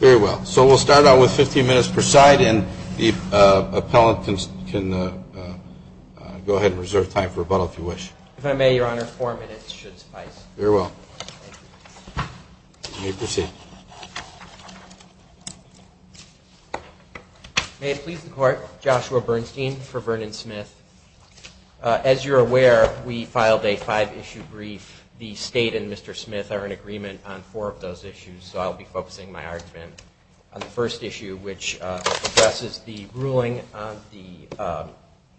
Very well. So we'll start out with 15 minutes per side, and the appellant can go ahead and reserve time for rebuttal if you wish. If I may, Your Honor, four minutes should suffice. Very well. You may proceed. May it please the Court, Joshua Bernstein for Vernon Smith. As you're aware, we filed a five-issue brief. The State and Mr. Smith are in agreement on four of those issues, so I'll be focusing my argument on the first issue, which addresses the ruling on the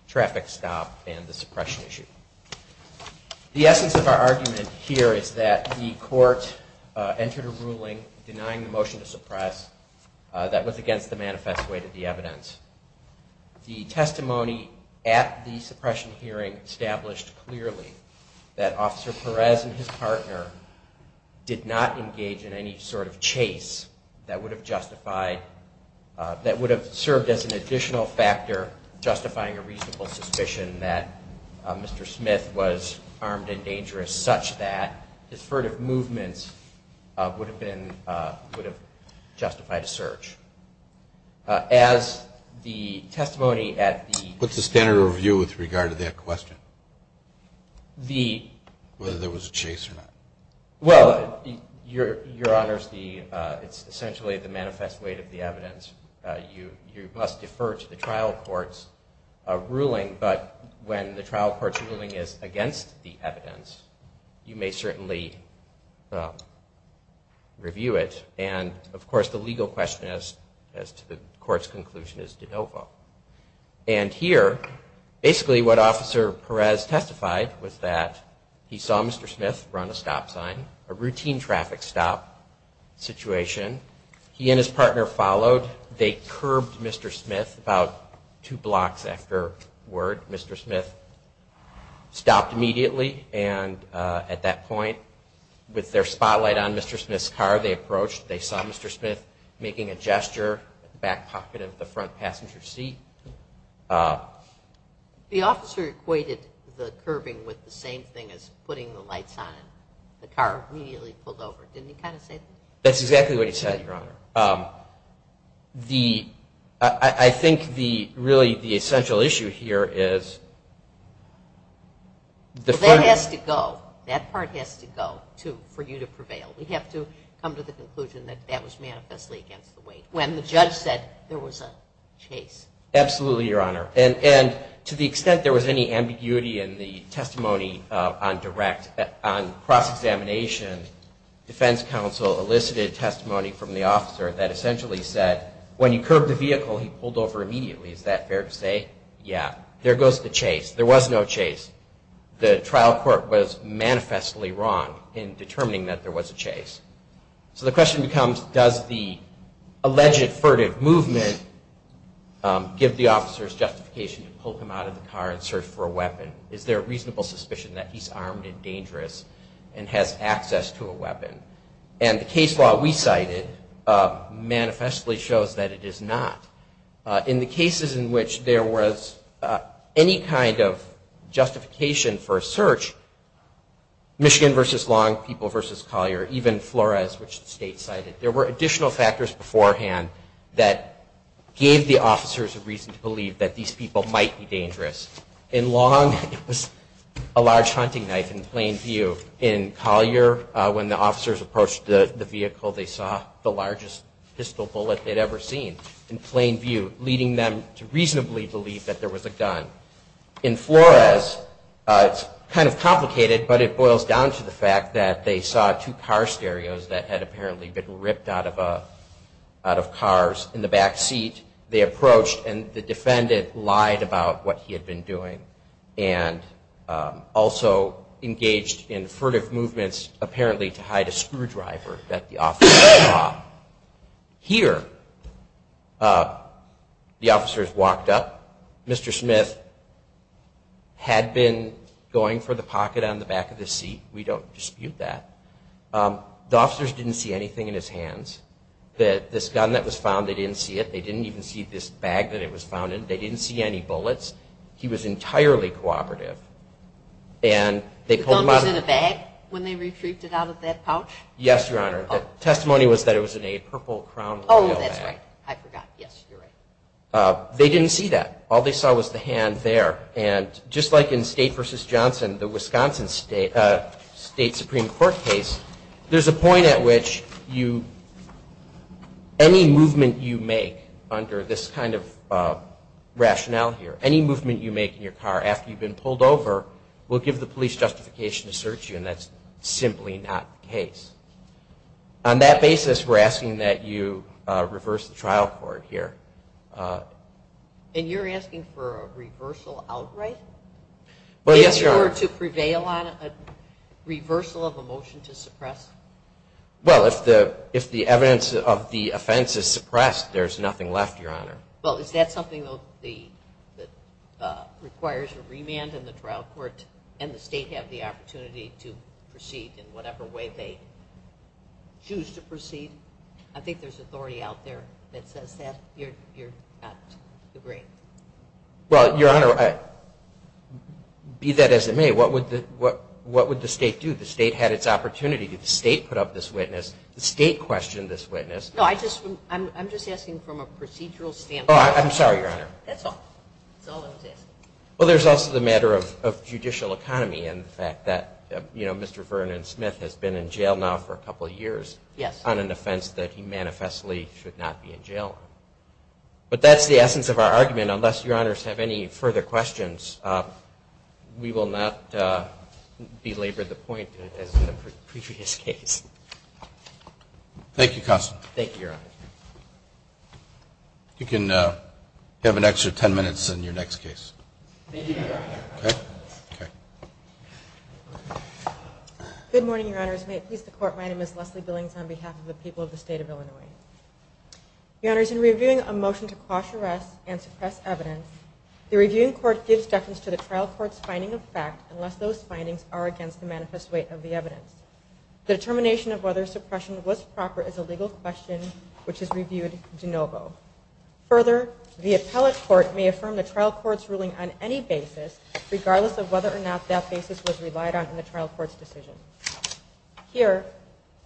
traffic stop and the suppression issue. The essence of our argument here is that the Court entered a ruling denying the motion to suppress that was against the manifest way to the evidence. The testimony at the suppression hearing established clearly that Officer Perez and his partner did not engage in any sort of chase that would have served as an additional factor justifying a reasonable suspicion that Mr. Smith was armed and dangerous such that his furtive movements would have justified a search. As the testimony at the What's the standard of review with regard to that question? Whether there was a chase or not. Well, Your Honor, it's essentially the manifest way to the evidence. You must defer to the trial court's ruling, but when the trial court's ruling is against the evidence, you may certainly review it. And, of course, the legal question as to the Court's conclusion is de novo. And here, basically what Officer Perez testified was that he saw Mr. Smith run a stop sign, a routine traffic stop situation. He and his partner followed. They curbed Mr. Smith about two blocks afterward. Mr. Smith stopped immediately and at that point, with their spotlight on Mr. Smith's car, they approached. They saw Mr. Smith making a gesture at the back pocket of the car on the passenger seat. The officer equated the curbing with the same thing as putting the lights on and the car immediately pulled over. Didn't he kind of say that? That's exactly what he said, Your Honor. I think really the essential issue here is the Well, that has to go. That part has to go for you to prevail. We have to come to the Absolutely, Your Honor. And to the extent there was any ambiguity in the testimony on direct on cross-examination, defense counsel elicited testimony from the officer that essentially said, when you curbed the vehicle, he pulled over immediately. Is that fair to say? Yeah. There goes the chase. There was no chase. The trial court was manifestly wrong in determining that there was a chase. So the question becomes does the alleged furtive movement give the officers justification to pull him out of the car and search for a weapon? Is there a reasonable suspicion that he's armed and dangerous and has access to a weapon? And the case law we cited manifestly shows that it is not. In the cases in which there was any kind of justification for a search, Michigan v. Long, people v. Collier, even Flores, which the state cited, there were additional factors beforehand that gave the officers a reason to believe that these people might be dangerous. In Long, it was a large hunting knife in plain view. In Collier, when the officers approached the vehicle, they saw the largest pistol bullet they'd ever seen in plain view, leading them to reasonably believe that there was a gun. In Flores, it's kind of complicated, but it boils down to the fact that they saw two car stereos that had apparently been ripped out of cars in the back seat. They approached, and the defendant lied about what he had been doing and also engaged in furtive movements apparently to hide a screwdriver that the officers saw. Here, the officers walked up. Mr. Smith had been going for the pocket on the back of the seat. We don't dispute that. The officers didn't see anything in his hands. This gun that was found, they didn't see it. They didn't even see this bag that it was found in. They didn't see any bullets. He was entirely cooperative. The gun was in a bag when they retrieved it out of that pouch? Yes, Your Honor. The testimony was that it was in a purple crown- Oh, that's right. I forgot. Yes, you're right. They didn't see that. All they saw was the hand there. Just like in State v. Johnson, the Wisconsin State Supreme Court case, there's a point at which any movement you make under this kind of rationale here, any movement you make in your car after you've been pulled over will give the police justification to search you, and that's simply not the case. On that basis, we're asking that you reverse the trial court here. And you're asking for a reversal outright? Well, yes, Your Honor. In order to prevail on a reversal of a motion to suppress? Well, if the evidence of the offense is suppressed, there's nothing left, Your Honor. Well, is that something that requires a remand in the trial court and the State have the opportunity to proceed in whatever way they choose to proceed? I think there's authority out there that says that. You're not agreeing? Well, Your Honor, be that as it may, what would the State do? The State had its opportunity. Did the State put up this witness? The State questioned this witness. No, I'm just asking from a procedural standpoint. Oh, I'm sorry, Your Honor. That's all. That's all I was asking. Well, there's also the matter of judicial economy and the fact that, you know, Mr. Vernon Smith has been in jail now for a couple of years on an offense that he manifestly should not be in jail on. But that's the essence of our argument. Unless Your Honors have any further questions, we will not belabor the point as in the previous case. Thank you, Constance. Thank you, Your Honor. You can have an extra ten minutes in your next case. Thank you, Your Honor. Okay? Okay. Good morning, Your Honors. May it please the Court, my name is Leslie Billings on behalf of the people of the State of Illinois. Your Honors, in reviewing a motion to quash arrest and suppress evidence, the reviewing court gives deference to the trial court's finding of fact unless those findings are against the manifest weight of the evidence. The determination of whether suppression was proper is a legal question which is reviewed de novo. Further, the appellate court may affirm the trial court's ruling on any basis, regardless of whether or not that basis was relied on in the trial court's decision. Here,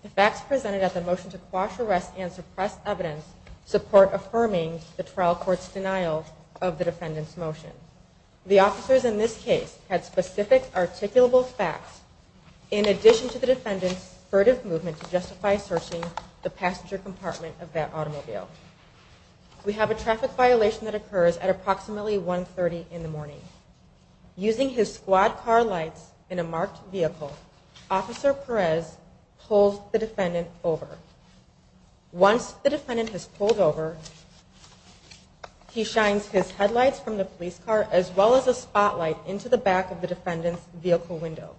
the facts presented at the motion to quash arrest and suppress evidence support affirming the trial court's denial of the defendant's motion. The officers in this case had specific articulable facts in addition to the defendant's furtive movement to justify searching the passenger compartment of that automobile. We have a traffic violation that occurs at approximately 1.30 in the morning. Using his squad car lights in a marked vehicle, Officer Perez pulls the defendant over. Once the defendant has pulled over, he shines his headlights from the police car as well as a spotlight into the back of the defendant's vehicle window.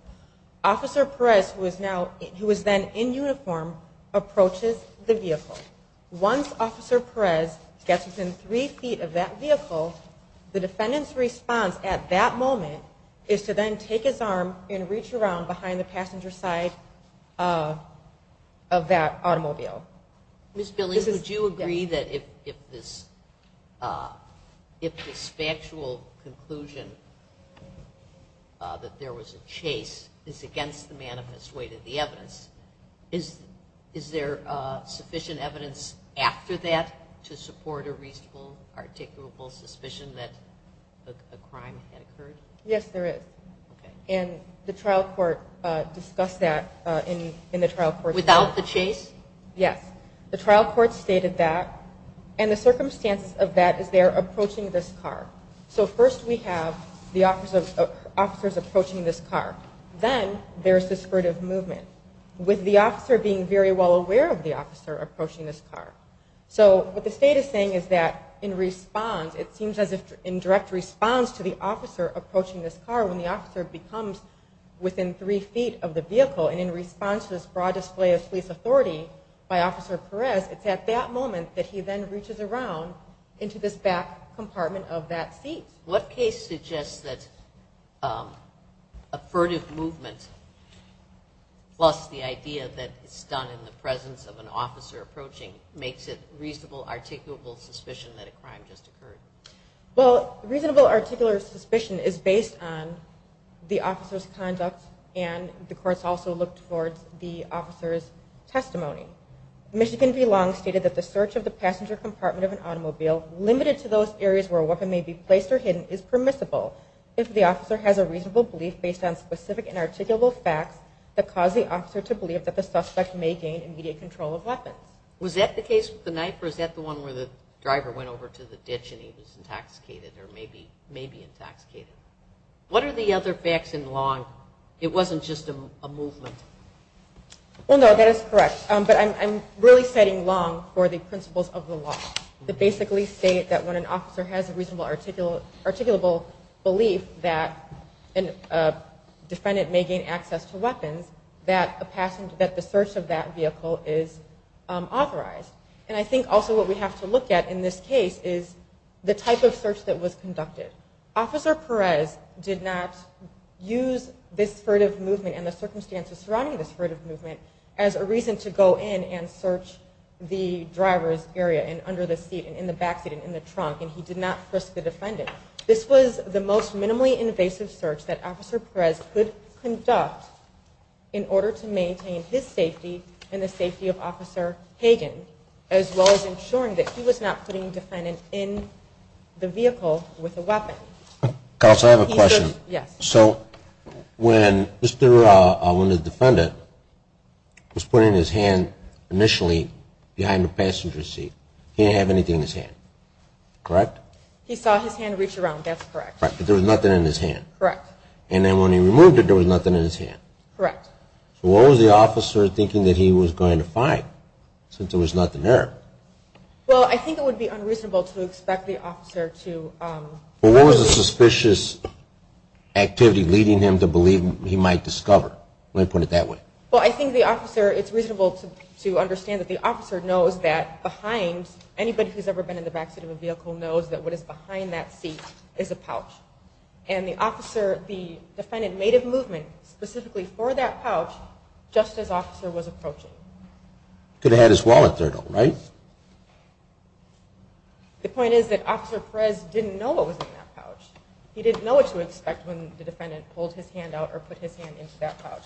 Officer Perez, who is then in uniform, approaches the vehicle. Once Officer Perez gets within three feet of that vehicle, the defendant's response at that moment is to then take his arm and reach around behind the passenger side of that automobile. Ms. Billings, would you agree that if this factual conclusion that there was a chase is against the manifest weight of the evidence, is there sufficient evidence after that to support a reasonable articulable suspicion that a crime had occurred? Yes, there is. And the trial court discussed that in the trial court's report. Without the chase? Yes. The trial court stated that. And the circumstance of that is they're approaching this car. So first we have the officers approaching this car. Then there's this sort of movement, with the officer being very well aware of the officer approaching this car. So what the state is saying is that in response, it seems as if in direct response to the officer approaching this car, when the officer becomes within three feet of the vehicle and in response to this broad display of police authority by Officer Perez, it's at that moment that he then reaches around into this back compartment of that seat. What case suggests that a furtive movement, plus the idea that it's done in the presence of an officer approaching, makes it reasonable articulable suspicion that a crime just occurred? Well, reasonable articulable suspicion is based on the officer's conduct and the courts also looked towards the officer's testimony. Michigan v. Long stated that the search of the passenger compartment of an automobile limited to those areas where a weapon may be placed or hidden is permissible if the officer has a reasonable belief based on specific and articulable facts that cause the officer to believe that the suspect may gain immediate control of weapons. Was that the case with the knife, or is that the one where the driver went over to the ditch and he was intoxicated or may be intoxicated? What are the other facts in Long? It wasn't just a movement. Well, no, that is correct. But I'm really citing Long for the principles of the law that basically state that when an officer has a reasonable articulable belief that a defendant may gain access to weapons, that the search of that vehicle is authorized. And I think also what we have to look at in this case is the type of search that was conducted. Officer Perez did not use this furtive movement and the circumstances surrounding this furtive movement as a reason to go in and search the driver's area and under the seat and in the backseat and in the trunk, and he did not risk the defendant. This was the most minimally invasive search that Officer Perez could conduct in order to maintain his safety and the safety of Officer Hagen, as well as ensuring that he was not putting the defendant in the vehicle with a weapon. Counsel, I have a question. So when the defendant was putting his hand initially behind the passenger seat, he didn't have anything in his hand, correct? He saw his hand reach around, that's correct. But there was nothing in his hand? Correct. And then when he removed it, there was nothing in his hand? Correct. So what was the officer thinking that he was going to find, since there was nothing there? Well, I think it would be unreasonable to expect the officer to... What was the suspicious activity leading him to believe he might discover? Let me put it that way. Well, I think the officer, it's reasonable to understand that the officer knows that behind, anybody who's ever been in the backseat of a vehicle knows that what is behind that seat is a pouch. And the officer, the defendant, made a movement specifically for that pouch just as the officer was approaching. Could have had his wallet there, though, right? The point is that Officer Perez didn't know what was in that pouch. He didn't know what to expect when the defendant pulled his hand out or put his hand into that pouch.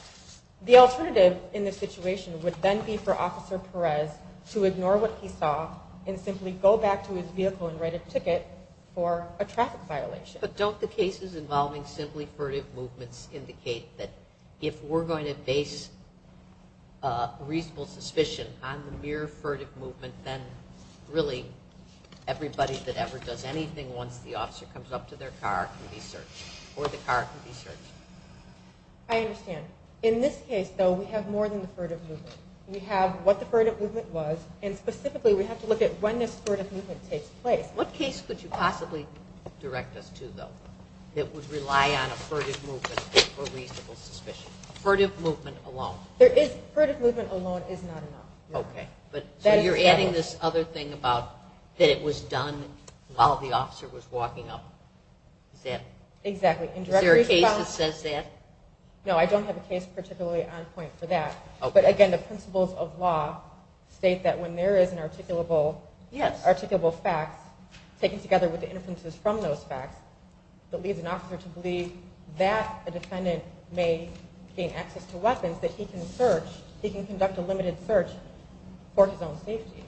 The alternative in this situation would then be for Officer Perez to ignore what he saw and simply go back to his vehicle and write a ticket for a traffic violation. But don't the cases involving simply furtive movements indicate that if we're going to base reasonable suspicion on the mere furtive movement, then really everybody that ever does anything once the officer comes up to their car can be searched, or the car can be searched? I understand. In this case, though, we have more than the furtive movement. We have what the furtive movement was, and specifically we have to look at when this furtive movement takes place. What case could you possibly direct us to, though, that would rely on a furtive movement for reasonable suspicion? A furtive movement alone. A furtive movement alone is not enough. Okay. So you're adding this other thing about that it was done while the officer was walking up. Exactly. Is there a case that says that? No, I don't have a case particularly on point for that. But, again, the principles of law state that when there is an articulable fact taken together with the inferences from those facts, it leads an officer to believe that a defendant may gain access to weapons that he can conduct a limited search for his own safety.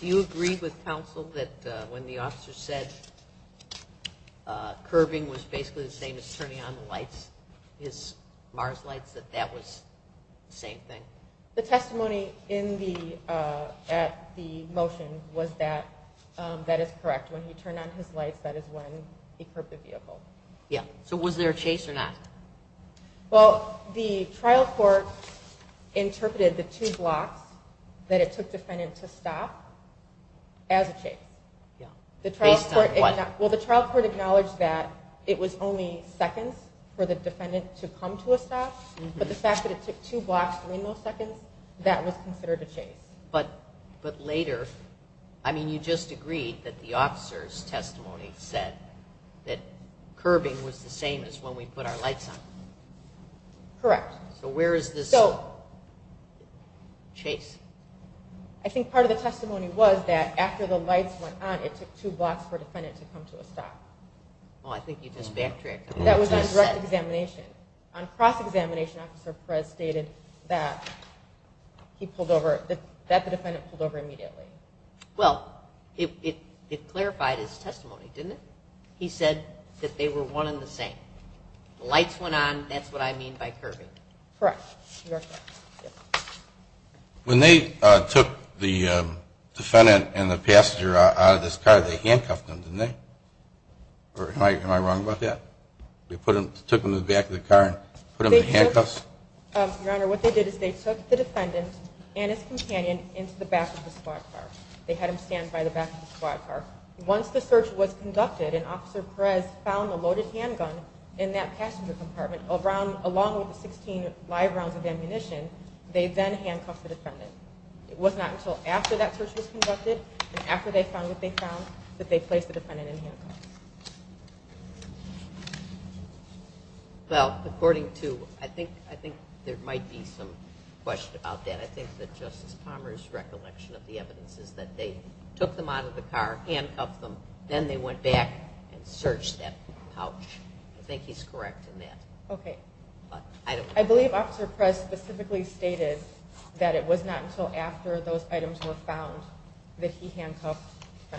Do you agree with counsel that when the officer said curving was basically the same as turning on the lights, his MARS lights, that that was the same thing? The testimony at the motion was that that is correct. When he turned on his lights, that is when he curbed the vehicle. Yeah. So was there a chase or not? Well, the trial court interpreted the two blocks that it took defendant to stop as a chase. Based on what? Well, the trial court acknowledged that it was only seconds for the defendant to come to a stop, but the fact that it took two blocks, three milliseconds, that was considered a chase. But later, I mean, you just agreed that the officer's testimony said that curving was the same as when we put our lights on. Correct. So where is this chase? I think part of the testimony was that after the lights went on, it took two blocks for a defendant to come to a stop. Well, I think you just backtracked. That was on direct examination. On cross-examination, Officer Perez stated that the defendant pulled over immediately. Well, it clarified his testimony, didn't it? He said that they were one and the same. The lights went on. That's what I mean by curving. Correct. When they took the defendant and the passenger out of this car, they handcuffed them, didn't they? Am I wrong about that? They took them to the back of the car and put them in handcuffs? Your Honor, what they did is they took the defendant and his companion into the back of the squad car. They had them stand by the back of the squad car. Once the search was conducted and Officer Perez found the loaded handgun in that passenger compartment, along with the 16 live rounds of ammunition, they then handcuffed the defendant. It was not until after that search was conducted and after they found what they found that they placed the defendant in handcuffs. Well, according to—I think there might be some question about that. I think that Justice Palmer's recollection of the evidence is that they took them out of the car, handcuffed them, then they went back and searched that pouch. I think he's correct in that. Okay. I believe Officer Perez specifically stated that it was not until after those items were found that he handcuffed the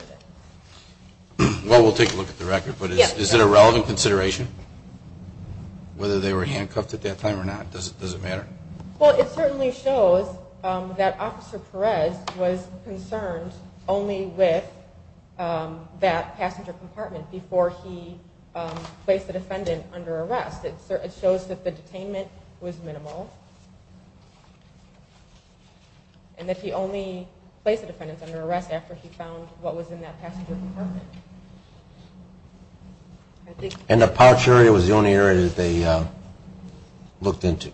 defendant. Well, we'll take a look at the record, but is it a relevant consideration whether they were handcuffed at that time or not? Does it matter? Well, it certainly shows that Officer Perez was concerned only with that passenger compartment before he placed the defendant under arrest. It shows that the detainment was minimal and that he only placed the defendant under arrest after he found what was in that passenger compartment. And the pouch area was the only area that they looked into?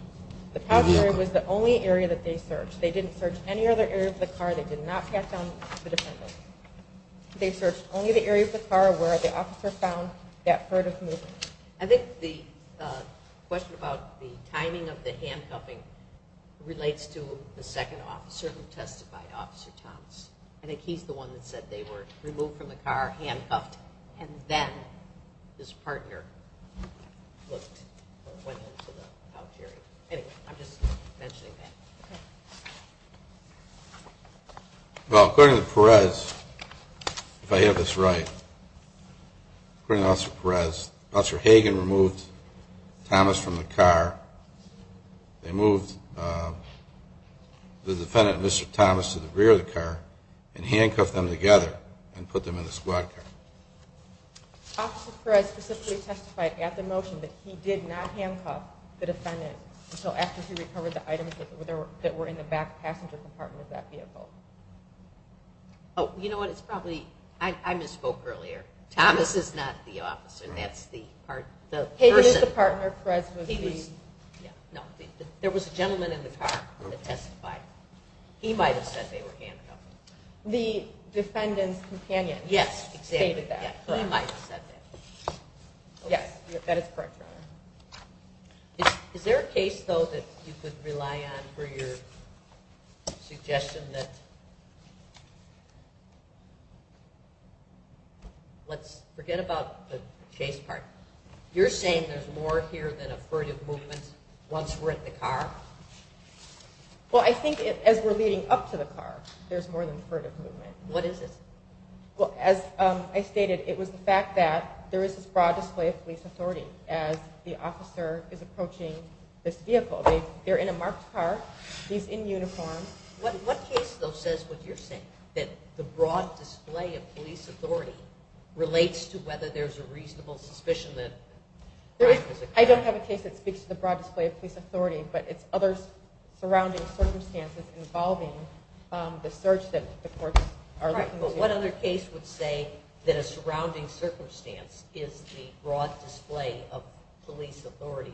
The pouch area was the only area that they searched. They didn't search any other area of the car. They did not pass down the defendant. They searched only the area of the car where the officer found that herd of moose. I think the question about the timing of the handcuffing relates to the second officer who testified, Officer Thomas. I think he's the one that said they were removed from the car, handcuffed, and then his partner looked or went into the pouch area. Anyway, I'm just mentioning that. Well, according to Perez, if I have this right, according to Officer Perez, Officer Hagen removed Thomas from the car. They moved the defendant, Mr. Thomas, to the rear of the car and handcuffed them together and put them in the squad car. Officer Perez specifically testified at the motion that he did not handcuff the defendant until after he recovered the items that were in the back passenger compartment of that vehicle. Oh, you know what? It's probably – I misspoke earlier. Thomas is not the officer. That's the person. Hagen is the partner. Perez was the – Yeah, no. There was a gentleman in the car who testified. He might have said they were handcuffed. The defendant's companion stated that. Yes, exactly. He might have said that. Yes, that is correct, Your Honor. Is there a case, though, that you could rely on for your suggestion that – let's forget about the chase part. You're saying there's more here than a furtive movement once we're in the car? Well, I think as we're leading up to the car, there's more than furtive movement. What is it? Well, as I stated, it was the fact that there is this broad display of police authority as the officer is approaching this vehicle. They're in a marked car. He's in uniform. What case, though, says what you're saying, that the broad display of police authority relates to whether there's a reasonable suspicion that – I don't have a case that speaks to the broad display of police authority, but what other case would say that a surrounding circumstance is the broad display of police authority?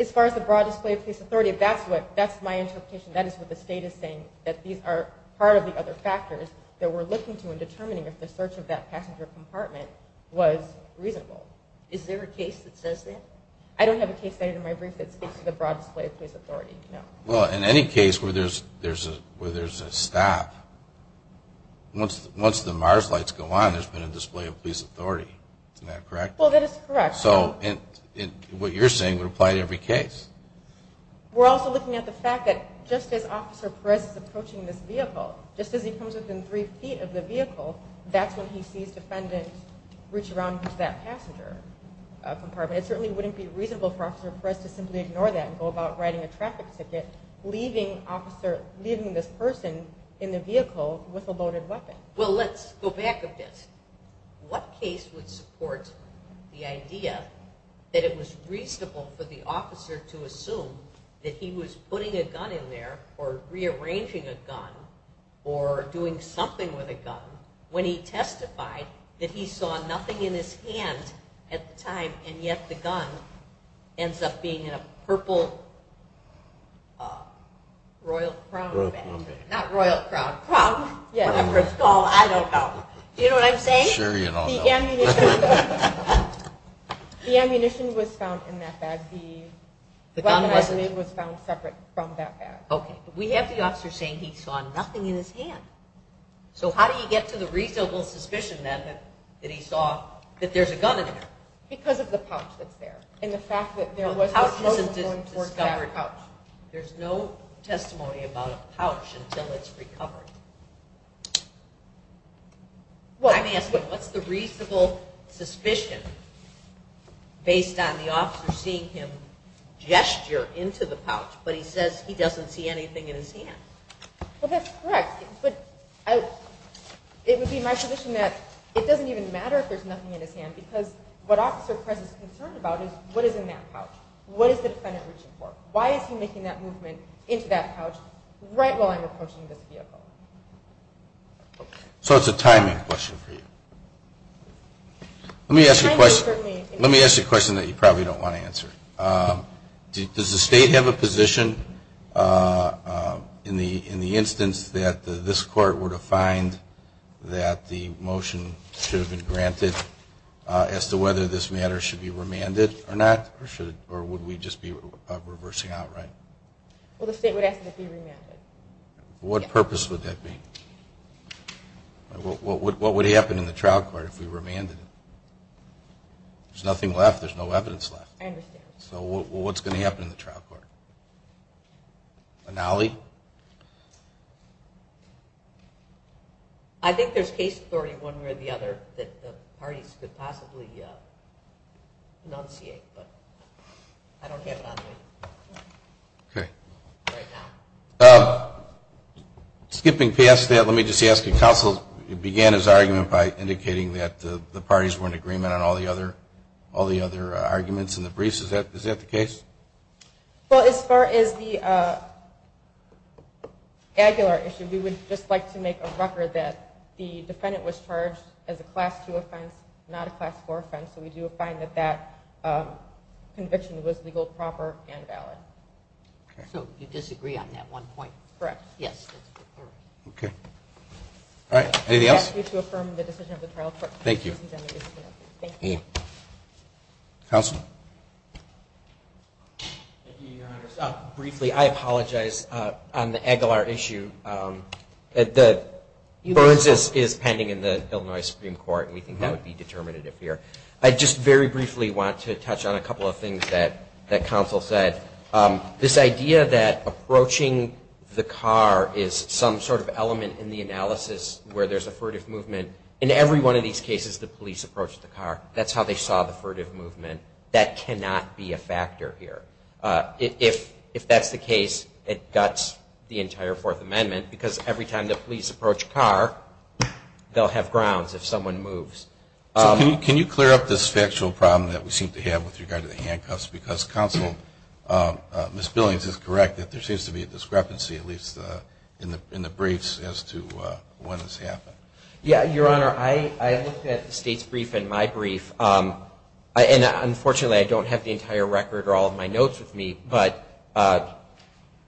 As far as the broad display of police authority, that's my interpretation. That is what the State is saying, that these are part of the other factors that we're looking to in determining if the search of that passenger compartment was reasonable. Is there a case that says that? I don't have a case stated in my brief that speaks to the broad display of police authority, no. Well, in any case where there's a stop, once the MARS lights go on, there's been a display of police authority. Isn't that correct? Well, that is correct. So what you're saying would apply to every case. We're also looking at the fact that just as Officer Perez is approaching this vehicle, just as he comes within three feet of the vehicle, that's when he sees defendants reach around into that passenger compartment. It certainly wouldn't be reasonable for Officer Perez to simply ignore that and go about writing a traffic ticket, leaving this person in the vehicle with a loaded weapon. Well, let's go back a bit. What case would support the idea that it was reasonable for the officer to assume that he was putting a gun in there or rearranging a gun or doing something with a gun when he testified that he saw nothing in his hand at the time and yet the gun ends up being in a purple Royal Crown bag. Not Royal Crown. Crown. Yeah. I don't know. Do you know what I'm saying? Sure you don't know. The ammunition was found in that bag. The weapon I believe was found separate from that bag. Okay. But we have the officer saying he saw nothing in his hand. So how do you get to the reasonable suspicion then that he saw that there's a gun in there? Because of the pouch that's there. And the fact that there was a loaded gun in that pouch. There's no testimony about a pouch until it's recovered. I'm asking, what's the reasonable suspicion based on the officer seeing him gesture into the pouch but he says he doesn't see anything in his hand? Well, that's correct. But it would be my position that it doesn't even matter if there's nothing in his hand because what Officer Prez is concerned about is what is in that pouch? What is the defendant reaching for? Why is he making that movement into that pouch right while I'm approaching this vehicle? So it's a timing question for you. Let me ask you a question that you probably don't want to answer. Does the state have a position in the instance that this court were to find that the motion should have been granted as to whether this matter should be remanded or not? Or would we just be reversing outright? Well, the state would ask that it be remanded. What purpose would that be? What would happen in the trial court if we remanded it? There's nothing left. There's no evidence left. I understand. So what's going to happen in the trial court? Analy? I think there's case authority one way or the other that the parties could possibly enunciate. But I don't have it on me right now. Skipping past that, let me just ask you, counsel began his argument by indicating that the parties were in agreement on all the other arguments in the briefs. Is that the case? Well, as far as the Aguilar issue, we would just like to make a record that the defendant was charged as a class 2 offense, not a class 4 offense. So we do find that that conviction was legal, proper, and valid. So you disagree on that one point? Correct. Yes. Okay. All right. Anything else? I ask you to affirm the decision of the trial court. Thank you. Thank you. Counsel? Thank you, Your Honor. Briefly, I apologize on the Aguilar issue. Burns is pending in the Illinois Supreme Court, and we think that would be determinative here. I just very briefly want to touch on a couple of things that counsel said. This idea that approaching the car is some sort of element in the analysis where there's a furtive movement. In every one of these cases, the police approached the car. That's how they saw the furtive movement. That cannot be a factor here. If that's the case, it guts the entire Fourth Amendment, because every time the police approach a car, they'll have grounds if someone moves. So can you clear up this factual problem that we seem to have with regard to the handcuffs? Because counsel, Ms. Billings is correct that there seems to be a discrepancy, at least in the briefs, as to when this happened. Yes, Your Honor. I looked at the State's brief and my brief. And unfortunately, I don't have the entire record or all of my notes with me. But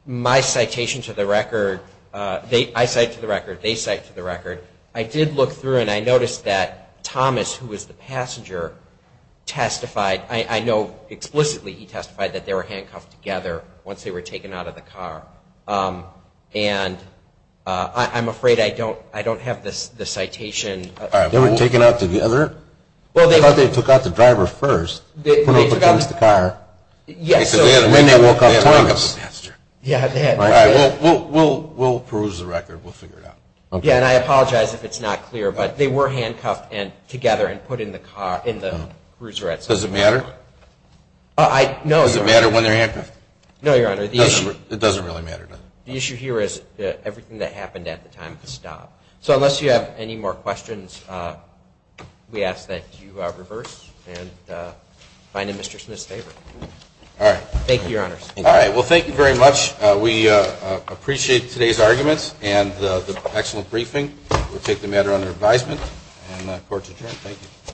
my citation to the record, I cite to the record, they cite to the record. I did look through and I noticed that Thomas, who was the passenger, testified. I know explicitly he testified that they were handcuffed together once they were taken out of the car. And I'm afraid I don't have the citation. They were taken out together? I thought they took out the driver first, put him against the car, and then they woke up Thomas. We'll peruse the record. We'll figure it out. Yeah, and I apologize if it's not clear. But they were handcuffed together and put in the cruiser at some point. Does it matter? No, Your Honor. Does it matter when they're handcuffed? No, Your Honor. It doesn't really matter, does it? The issue here is everything that happened at the time of the stop. So unless you have any more questions, we ask that you reverse and find a mistress in this favor. All right. Thank you, Your Honors. All right. Well, thank you very much. We appreciate today's arguments and the excellent briefing. We'll take the matter under advisement and the Court's adjourned. Thank you.